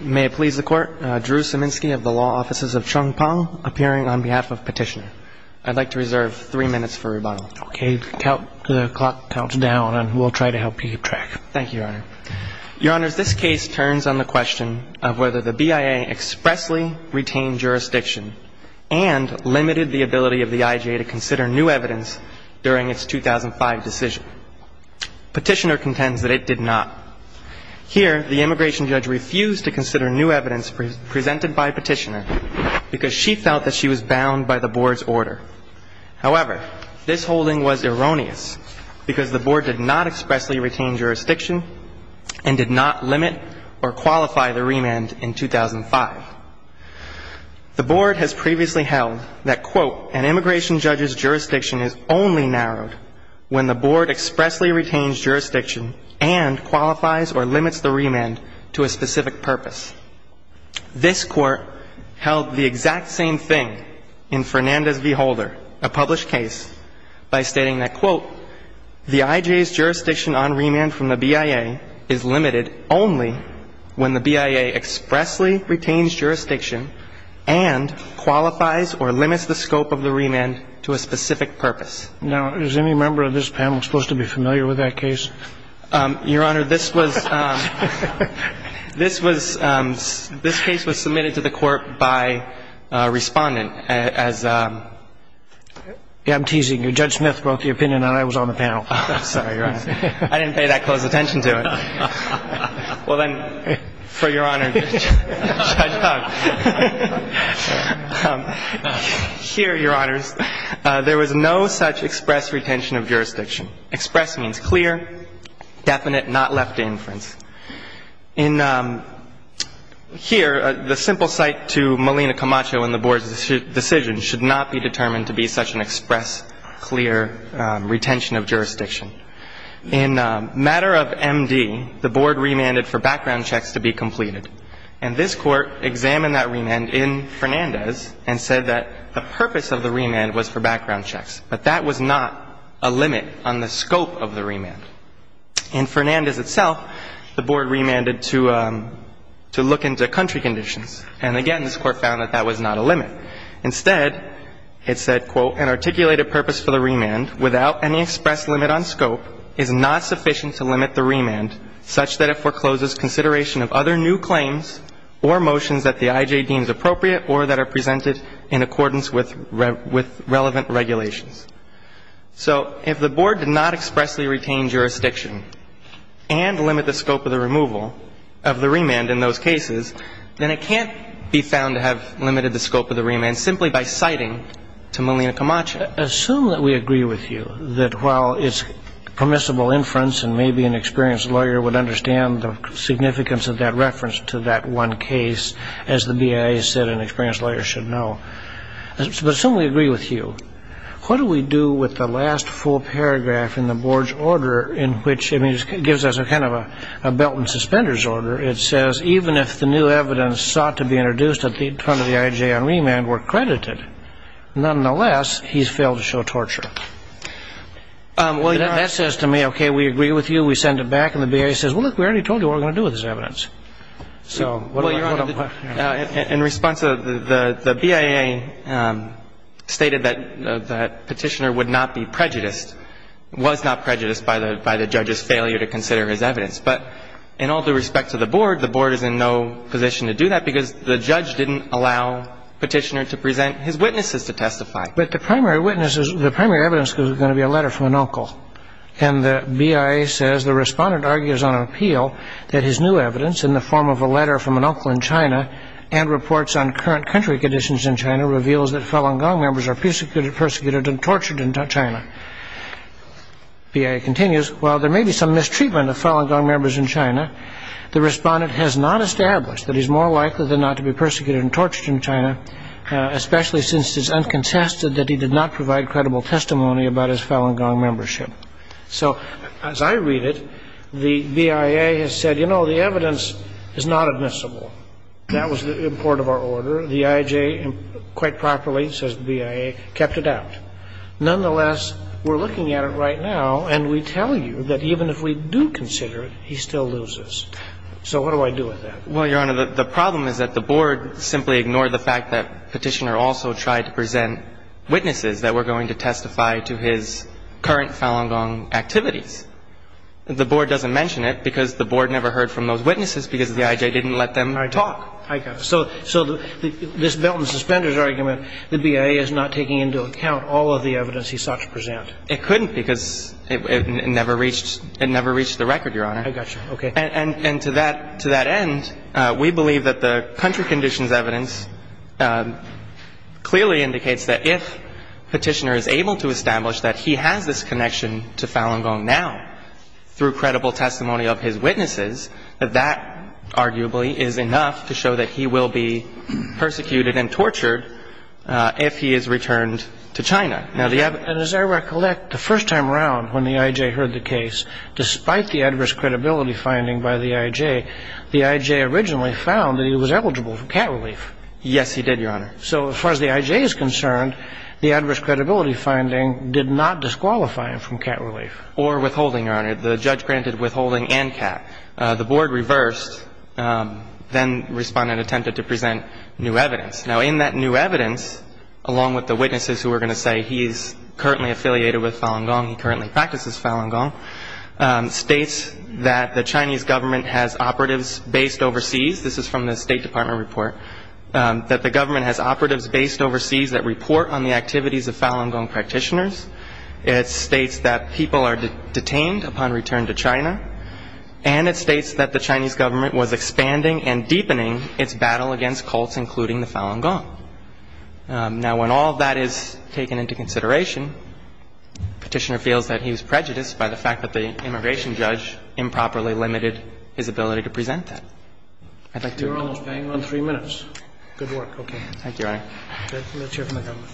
May it please the Court, Drew Siminski of the Law Offices of Chung Pong appearing on behalf of Petitioner. I'd like to reserve three minutes for rebuttal. Okay, count the clock down and we'll try to help you keep track. Thank you, Your Honor. Your Honor, this case turns on the question of whether the BIA expressly retained jurisdiction and limited the ability of the IJ to consider new evidence during its 2005 decision. Petitioner contends that it did not. Here, the immigration judge refused to consider new evidence presented by Petitioner because she felt that she was bound by the Board's order. However, this holding was erroneous because the Board did not expressly retain jurisdiction and did not limit or qualify the remand in 2005. The Board has previously held that, quote, an immigration judge's jurisdiction is only narrowed when the Board expressly retains jurisdiction and qualifies or limits the remand to a specific purpose. This Court held the exact same thing in Fernandez v. Holder, a published case, by stating that, quote, the IJ's jurisdiction on remand from the BIA is limited only when the BIA expressly retains jurisdiction and qualifies or limits the scope of the remand to a specific purpose. Now, is any member of this panel supposed to be familiar with that case? Your Honor, this was submitted to the Court by a respondent as a... I'm teasing you. Judge Smith wrote the opinion and I was on the panel. I'm sorry, Your Honor. I didn't pay that close attention to it. Well, then, for Your Honor... Here, Your Honors, there was no such express retention of jurisdiction. Express means clear, definite, not left to inference. In here, the simple cite to Melina Camacho and the Board's decision should not be determined to be such an express, clear retention of jurisdiction. In matter of MD, the Board remanded for background checks to be completed. And this Court examined that remand in Fernandez and said that the purpose of the remand was for background checks. But that was not a limit on the scope of the remand. In Fernandez itself, the Board remanded to look into country conditions. And, again, this Court found that that was not a limit. Instead, it said, quote, an articulated purpose for the remand without any express limit on scope is not sufficient to limit the remand such that it forecloses consideration of other new claims or motions that the IJ deems appropriate or that are presented in accordance with relevant regulations. So if the Board did not expressly retain jurisdiction and limit the scope of the removal of the remand in those cases, then it can't be found to have limited the scope of the remand simply by citing to Melina Camacho. Assume that we agree with you that while it's permissible inference and maybe an experienced lawyer would understand the significance of that reference to that one case, as the BIA said an experienced lawyer should know. But assume we agree with you. What do we do with the last full paragraph in the Board's order in which it gives us a kind of a belt and suspenders order? It says, even if the new evidence sought to be introduced at the turn of the IJ on remand were credited, nonetheless, he's failed to show torture. That says to me, okay, we agree with you. We send it back. And the BIA says, well, look, we already told you what we're going to do with this evidence. So what do we do? In response, the BIA stated that Petitioner would not be prejudiced, was not prejudiced by the judge's failure to consider his evidence. But in all due respect to the Board, the Board is in no position to do that because the judge didn't allow Petitioner to present his witnesses to testify. But the primary witnesses, the primary evidence is going to be a letter from an uncle. And the BIA says the respondent argues on appeal that his new evidence in the form of a letter from an uncle in China and reports on current country conditions in China reveals that Falun Gong members are persecuted and tortured in China. BIA continues, while there may be some mistreatment of Falun Gong members in China, the respondent has not established that he's more likely than not to be persecuted and tortured in China, especially since it's uncontested that he did not provide credible testimony about his Falun Gong membership. So as I read it, the BIA has said, you know, the evidence is not admissible. That was the import of our order. The IJ quite properly, says the BIA, kept it out. Nonetheless, we're looking at it right now, and we tell you that even if we do consider it, he still loses. So what do I do with that? Well, Your Honor, the problem is that the Board simply ignored the fact that Petitioner also tried to present witnesses that were going to testify to his current Falun Gong activities. The Board doesn't mention it because the Board never heard from those witnesses because the IJ didn't let them talk. I got it. So this Belt and Suspenders argument, the BIA is not taking into account all of the evidence he sought to present. It couldn't because it never reached the record, Your Honor. I got you. Okay. And to that end, we believe that the country conditions evidence clearly indicates that if Petitioner is able to establish that he has this connection to Falun Gong now through credible testimony of his witnesses, that that arguably is enough to show that he will be persecuted and tortured if he is returned to China. And as I recollect, the first time around when the IJ heard the case, despite the adverse credibility finding by the IJ, the IJ originally found that he was eligible for cat relief. Yes, he did, Your Honor. So as far as the IJ is concerned, the adverse credibility finding did not disqualify him from cat relief. Or withholding, Your Honor. The judge granted withholding and cat. The board reversed, then responded and attempted to present new evidence. Now, in that new evidence, along with the witnesses who are going to say he is currently affiliated with Falun Gong, he currently practices Falun Gong, states that the Chinese government has operatives based overseas. This is from the State Department report, that the government has operatives based overseas that report on the activities of Falun Gong practitioners. It states that people are detained upon return to China. And it states that the Chinese government was expanding and deepening its battle against cults, including the Falun Gong. Now, when all of that is taken into consideration, Petitioner feels that he was prejudiced by the fact that the immigration judge improperly limited his ability to present that. I'd like to. You're almost paying on three minutes. Good work. Okay. Thank you, Your Honor. Let's hear from the government.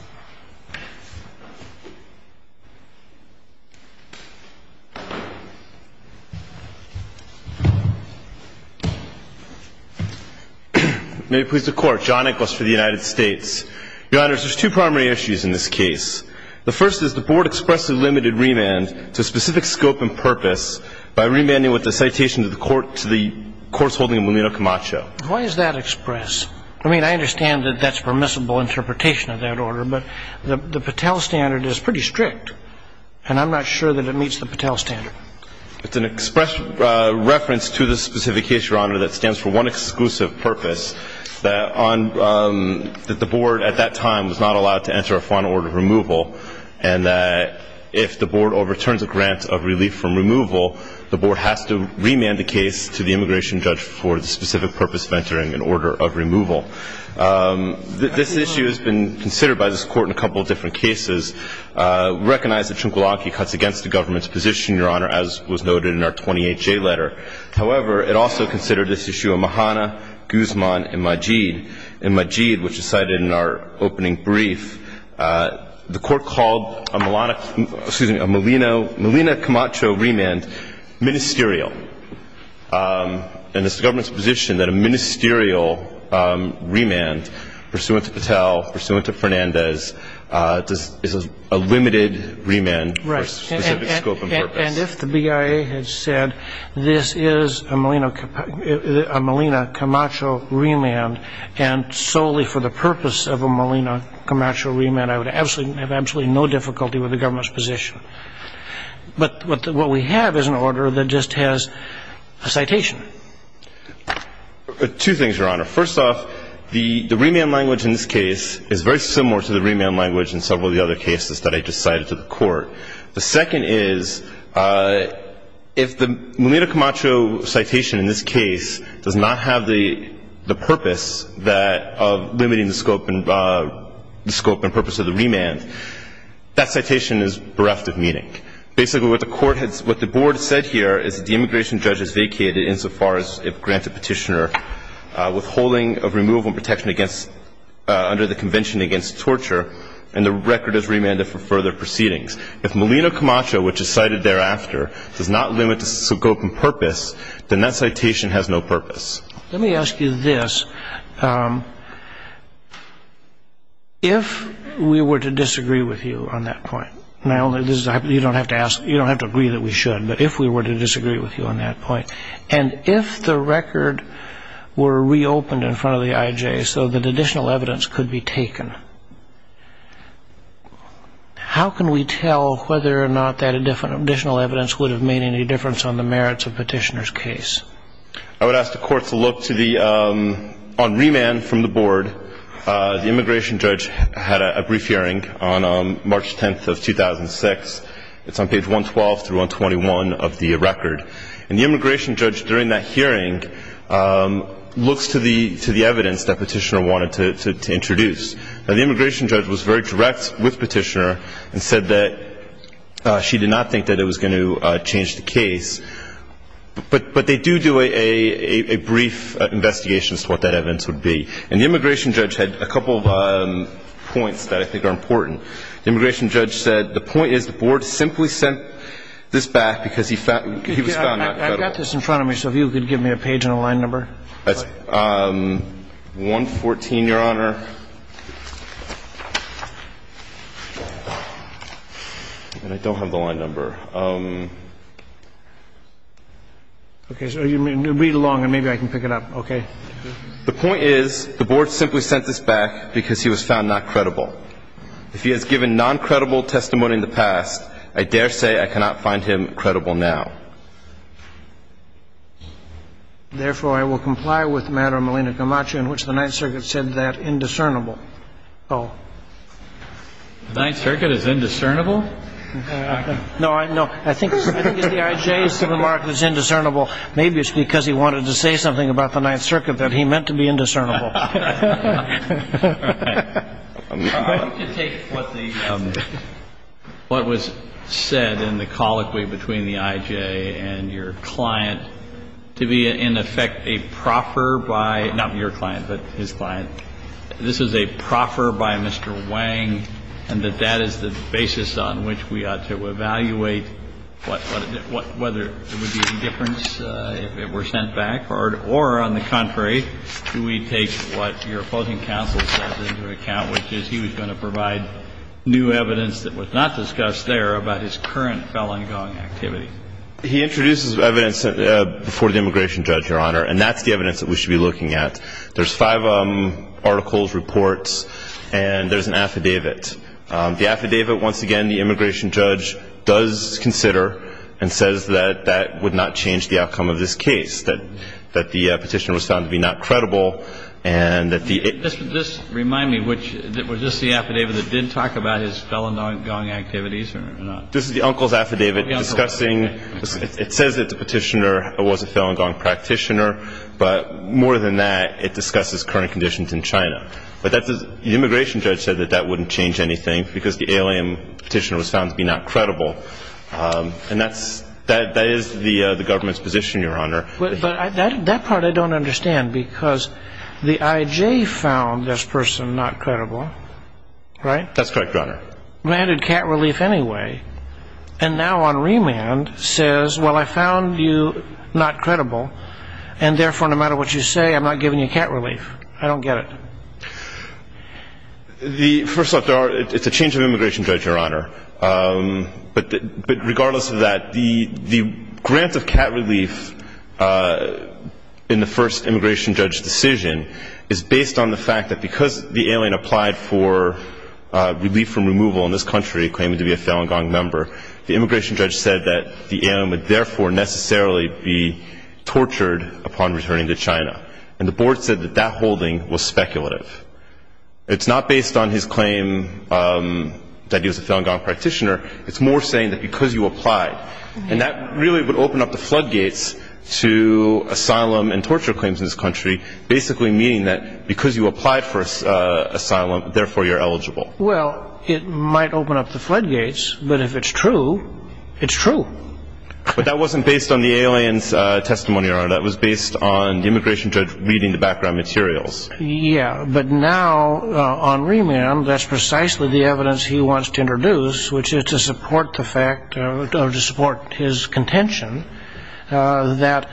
May it please the Court. John Inglis for the United States. Your Honors, there's two primary issues in this case. The first is the Board expressly limited remand to a specific scope and purpose by remanding with a citation to the Court's holding of Melino Camacho. Why does that express? I mean, I understand that that's permissible interpretation of that order, but the Patel standard is pretty strict, and I'm not sure that it meets the Patel standard. It's an express reference to the specific case, Your Honor, that stands for one exclusive purpose, that the Board at that time was not allowed to enter a final order of removal, and that if the Board overturns a grant of relief from removal, the Board has to remand the case to the immigration judge for the specific purpose of entering an order of removal. This issue has been considered by this Court in a couple of different cases. We recognize that Trungpa Lanky cuts against the government's position, Your Honor, as was noted in our 28J letter. However, it also considered this issue of Mahana, Guzman, and Majid. In Majid, which is cited in our opening brief, the Court called a Melina Camacho remand ministerial, and it's the government's position that a ministerial remand pursuant to Patel, pursuant to Fernandez, is a limited remand for a specific scope and purpose. And if the BIA had said this is a Melina Camacho remand, and solely for the purpose of a Melina Camacho remand, I would have absolutely no difficulty with the government's position. But what we have is an order that just has a citation. Two things, Your Honor. First off, the remand language in this case is very similar to the remand language in several of the other cases that I just cited to the Court. The second is, if the Melina Camacho citation in this case does not have the purpose of limiting the scope and purpose of the remand, that citation is bereft of meaning. Basically, what the Court has – what the Board has said here is that the immigration judge has vacated insofar as it grants a Petitioner withholding of removal and protection against – under the Convention against Torture, and the record is remanded for further proceedings. If Melina Camacho, which is cited thereafter, does not limit the scope and purpose, then that citation has no purpose. Let me ask you this. If we were to disagree with you on that point – you don't have to agree that we should, but if we were to disagree with you on that point, and if the record were reopened in front of the IJ so that additional evidence could be taken, how can we tell whether or not that additional evidence would have made any difference on the merits of Petitioner's case? I would ask the Court to look to the – on remand from the Board, the immigration judge had a brief hearing on March 10th of 2006. It's on page 112 through 121 of the record. And the immigration judge during that hearing looks to the evidence that Petitioner wanted to introduce. Now, the immigration judge was very direct with Petitioner and said that she did not think that it was going to change the case. But they do do a brief investigation as to what that evidence would be. And the immigration judge had a couple of points that I think are important. The immigration judge said the point is the Board simply sent this back because he was found not credible. I've got this in front of me, so if you could give me a page and a line number. That's 114, Your Honor. And I don't have the line number. Okay. So you read along and maybe I can pick it up. Okay. The point is the Board simply sent this back because he was found not credible. If he has given noncredible testimony in the past, I dare say I cannot find him credible now. Therefore, I will comply with the matter of Malina Camacho, in which the Ninth Circuit is indiscernible. The Ninth Circuit is indiscernible? No, I think the I.J. is indiscernible. Maybe it's because he wanted to say something about the Ninth Circuit that he meant to be indiscernible. All right. I want you to take what was said in the colloquy between the I.J. and your client to be, in effect, a proffer by not your client, but his client. This is a proffer by Mr. Wang, and that that is the basis on which we ought to evaluate whether there would be indifference if it were sent back, or on the contrary, do we take what your opposing counsel says into account, which is he was going to provide new evidence that was not discussed there about his current felon gong activity. He introduces evidence before the immigration judge, Your Honor, and that's the evidence that we should be looking at. There's five articles, reports, and there's an affidavit. The affidavit, once again, the immigration judge does consider and says that that would not change the outcome of this case, that the petitioner was found to be not credible and that the ---- Just remind me, was this the affidavit that did talk about his felon gong activities or not? This is the uncle's affidavit discussing ---- The uncle's affidavit. But more than that, it discusses current conditions in China. The immigration judge said that that wouldn't change anything because the alien petitioner was found to be not credible, and that is the government's position, Your Honor. But that part I don't understand because the I.J. found this person not credible, right? That's correct, Your Honor. And now on remand says, well, I found you not credible, and therefore, no matter what you say, I'm not giving you cat relief. I don't get it. First off, it's a change of immigration judge, Your Honor. But regardless of that, the grant of cat relief in the first immigration judge decision is based on the relief from removal in this country, claiming to be a felon gong member. The immigration judge said that the alien would therefore necessarily be tortured upon returning to China. And the board said that that holding was speculative. It's not based on his claim that he was a felon gong practitioner. It's more saying that because you applied, and that really would open up the floodgates to asylum and torture claims in this country, basically meaning that because you applied for asylum, therefore you're eligible. Well, it might open up the floodgates, but if it's true, it's true. But that wasn't based on the alien's testimony, Your Honor. That was based on the immigration judge reading the background materials. Yeah, but now on remand, that's precisely the evidence he wants to introduce, which is to support the fact or to support his contention that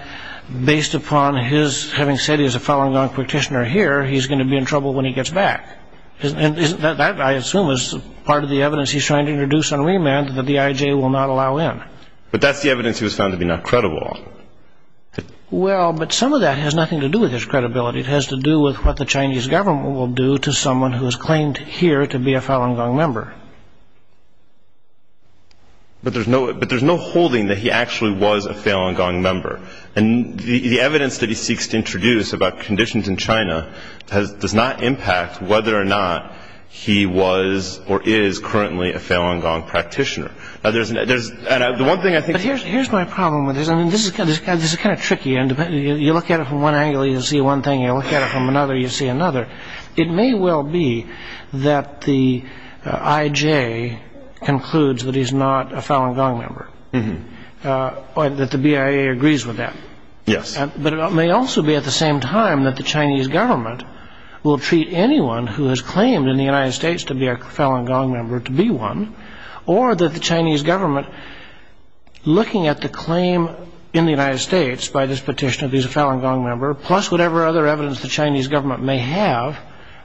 based upon his having said he was a felon gong practitioner here, he's going to be in trouble when he gets back. And that, I assume, is part of the evidence he's trying to introduce on remand that the IJ will not allow in. But that's the evidence he was found to be not credible. Well, but some of that has nothing to do with his credibility. It has to do with what the Chinese government will do to someone who is claimed here to be a felon gong member. But there's no holding that he actually was a felon gong member. And the evidence that he seeks to introduce about conditions in China does not impact whether or not he was or is currently a felon gong practitioner. But here's my problem with this. I mean, this is kind of tricky. You look at it from one angle, you see one thing. You look at it from another, you see another. It may well be that the IJ concludes that he's not a felon gong member, that the BIA agrees with that. Yes. But it may also be at the same time that the Chinese government will treat anyone who is claimed in the United States to be a felon gong member to be one, or that the Chinese government, looking at the claim in the United States by this petition of he's a felon gong member, plus whatever other evidence the Chinese government may have,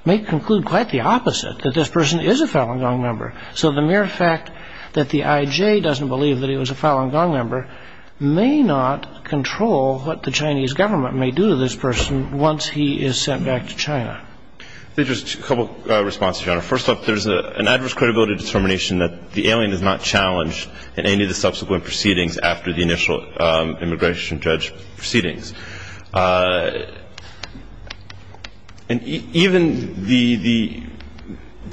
may conclude quite the opposite, that this person is a felon gong member. So the mere fact that the IJ doesn't believe that he was a felon gong member may not control what the Chinese government may do to this person once he is sent back to China. There's a couple of responses, Your Honor. First off, there's an adverse credibility determination that the alien is not challenged in any of the subsequent proceedings after the initial immigration judge proceedings. And even the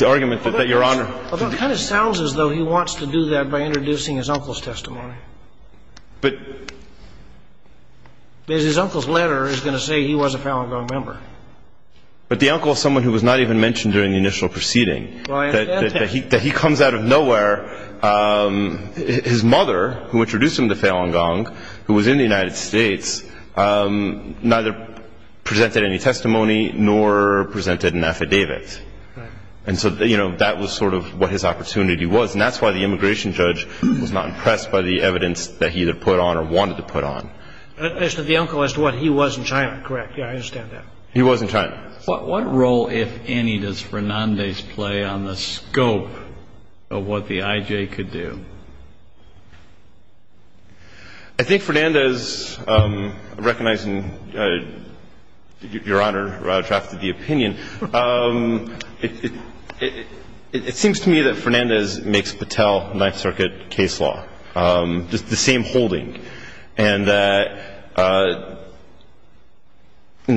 argument that Your Honor- Well, it kind of sounds as though he wants to do that by introducing his uncle's testimony. But- Because his uncle's letter is going to say he was a felon gong member. But the uncle is someone who was not even mentioned during the initial proceeding. Well, I understand that. That he comes out of nowhere. His mother, who introduced him to felon gong, who was in the United States, neither presented any testimony nor presented an affidavit. And so, you know, that was sort of what his opportunity was. And that's why the immigration judge was not impressed by the evidence that he either put on or wanted to put on. As to the uncle, as to what he was in China, correct? Yeah, I understand that. He was in China. What role, if any, does Fernandez play on the scope of what the I.J. could do? I think Fernandez, recognizing Your Honor drafted the opinion, it seems to me that Fernandez makes Patel Ninth Circuit case law the same holding. And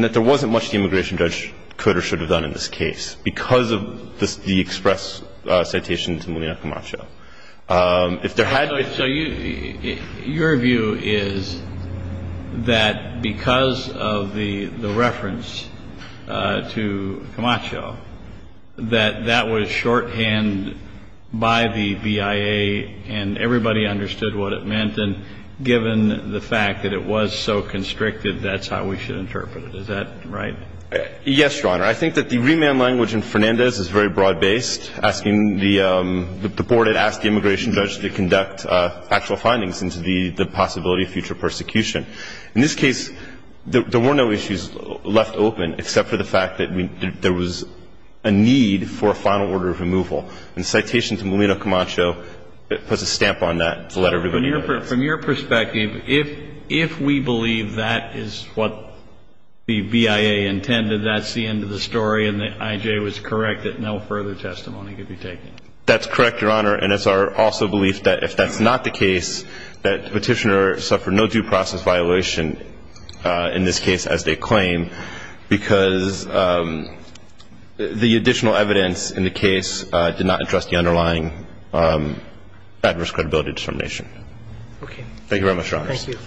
that there wasn't much the immigration judge could or should have done in this case because of the express citation to Molina Camacho. If there had been. So your view is that because of the reference to Camacho, that that was shorthand by the BIA and everybody understood what it meant and given the fact that it was so constricted, that's how we should interpret it. Is that right? Yes, Your Honor. I think that the remand language in Fernandez is very broad-based, asking the board had asked the immigration judge to conduct factual findings into the possibility of future persecution. In this case, there were no issues left open except for the fact that there was a need for a final order of removal. From your perspective, if we believe that is what the BIA intended, that's the end of the story and that I.J. was correct that no further testimony could be taken? That's correct, Your Honor. And it's our also belief that if that's not the case, that the petitioner suffered no due process violation in this case as they claim because the additional evidence in the case did not address the underlying adverse credibility discrimination. Okay. Thank you very much, Your Honors. Thank you.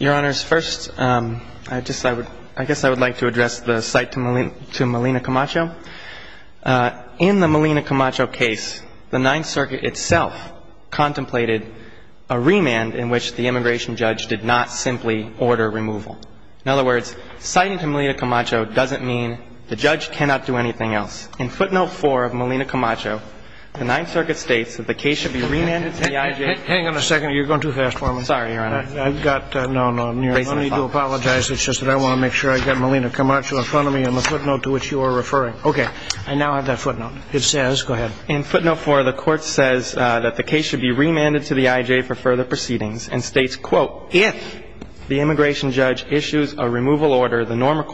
Your Honors, first, I guess I would like to address the site to Malina Camacho. In the Malina Camacho case, the Ninth Circuit itself contemplated a remand in which the immigration judge did not simply order removal. In other words, citing to Malina Camacho doesn't mean the judge cannot do anything else. In footnote 4 of Malina Camacho, the Ninth Circuit states that the case should be remanded to the I.J. Hang on a second. You're going too fast for me. Sorry, Your Honor. I've got no need to apologize. It's just that I want to make sure I've got Malina Camacho in front of me in the footnote to which you are referring. Okay. I now have that footnote. It says, go ahead. In footnote 4, the court says that the case should be remanded to the I.J. for further proceedings and states, quote, if the immigration judge issues a removal order, the normal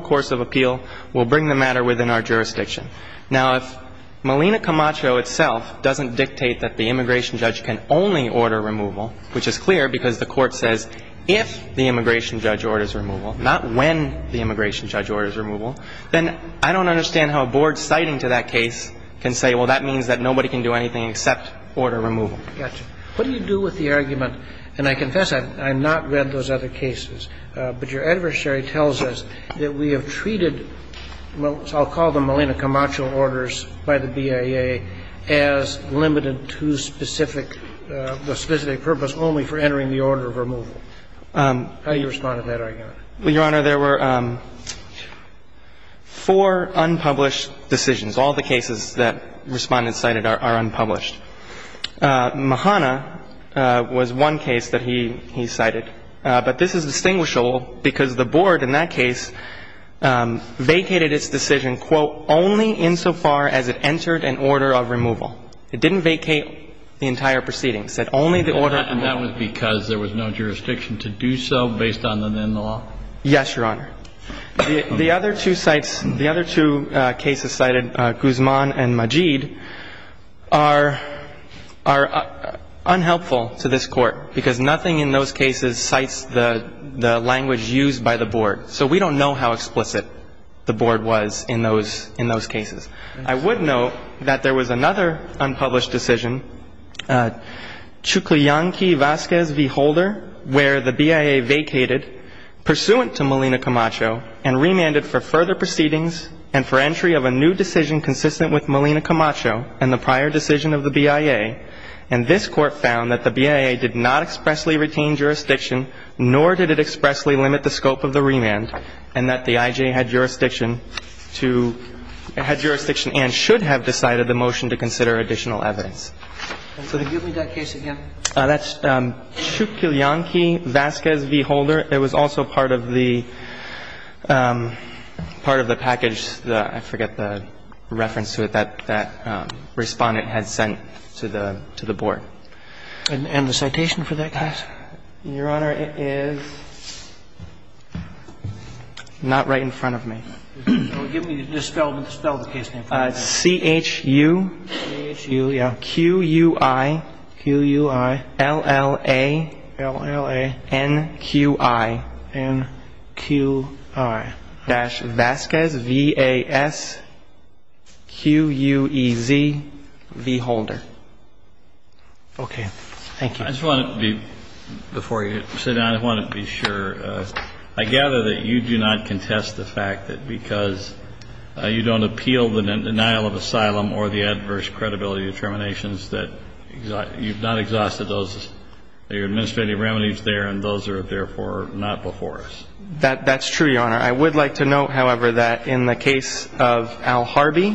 course of appeal will bring the matter within our jurisdiction. Now, if Malina Camacho itself doesn't dictate that the immigration judge can only order removal, which is clear because the court says if the immigration judge orders removal, not when the immigration judge orders removal, then I don't understand how a board citing to that case can say, well, that means that nobody can do anything except order removal. Got you. What do you do with the argument, and I confess I've not read those other cases, but your adversary tells us that we have treated what I'll call the Malina Camacho orders by the BIA as limited to specific, the specific purpose only for entering the order of removal. How do you respond to that argument? Your Honor, there were four unpublished decisions. All the cases that Respondent cited are unpublished. Mahana was one case that he cited, but this is distinguishable because the board in that case vacated its decision, quote, only insofar as it entered an order of removal. It didn't vacate the entire proceeding. It said only the order of removal. And that was because there was no jurisdiction to do so based on the then law? Yes, Your Honor. The other two cases cited, Guzman and Majid, are unhelpful to this Court because nothing in those cases cites the language used by the board. So we don't know how explicit the board was in those cases. I would note that there was another unpublished decision. Chuklyanki Vasquez v. Holder, where the BIA vacated, pursuant to Molina Camacho and remanded for further proceedings and for entry of a new decision consistent with Molina Camacho and the prior decision of the BIA. And this Court found that the BIA did not expressly retain jurisdiction, nor did it expressly limit the scope of the remand, and that the I.J. had jurisdiction and should have decided the motion to consider additional evidence. Could you give me that case again? That's Chuklyanki Vasquez v. Holder. It was also part of the package, I forget the reference to it, that Respondent had sent to the board. And the citation for that case? Your Honor, it is not right in front of me. Give me the spell of the case name. C-H-U-Q-U-I-L-L-A-N-Q-I-V-A-S-Q-U-E-Z v. Holder. Okay. Thank you. I just want to be, before you sit down, I want to be sure. I gather that you do not contest the fact that because you don't appeal the denial of asylum or the adverse credibility determinations that you've not exhausted those administrative remedies there, and those are therefore not before us. That's true, Your Honor. I would like to note, however, that in the case of Al Harby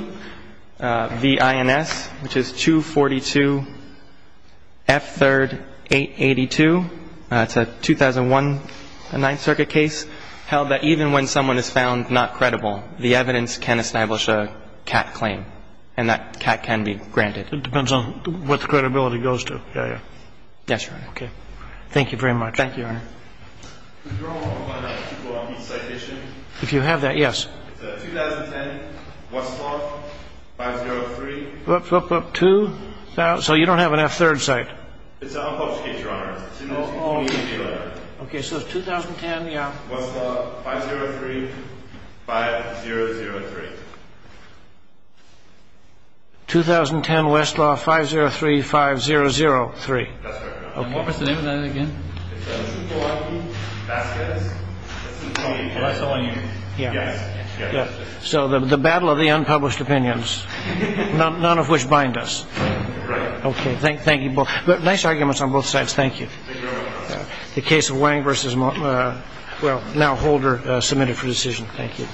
v. INS, which is 242F3-882, it's a 2001 Ninth Circuit case, held that even when someone is found not credible, the evidence can establish a CAC claim, and that CAC can be granted. It depends on what the credibility goes to. Yes, Your Honor. Okay. Thank you very much. Thank you, Your Honor. Could you remind me of the citation? If you have that, yes. It's a 2010 Westlaw 503- Whoop, whoop, whoop, two. So you don't have an F-third cite. It's an unpublished case, Your Honor. Okay, so it's 2010, yeah. Westlaw 503-5003. 2010 Westlaw 503-5003. That's correct, Your Honor. What was the name of that again? It's a Chukowacki-Vasquez- That's the one you- Yes. So the battle of the unpublished opinions, none of which bind us. Right. Okay, thank you both. But nice arguments on both sides. Thank you. Thank you, Your Honor. The case of Wang versus, well, now Holder submitted for decision. Thank you.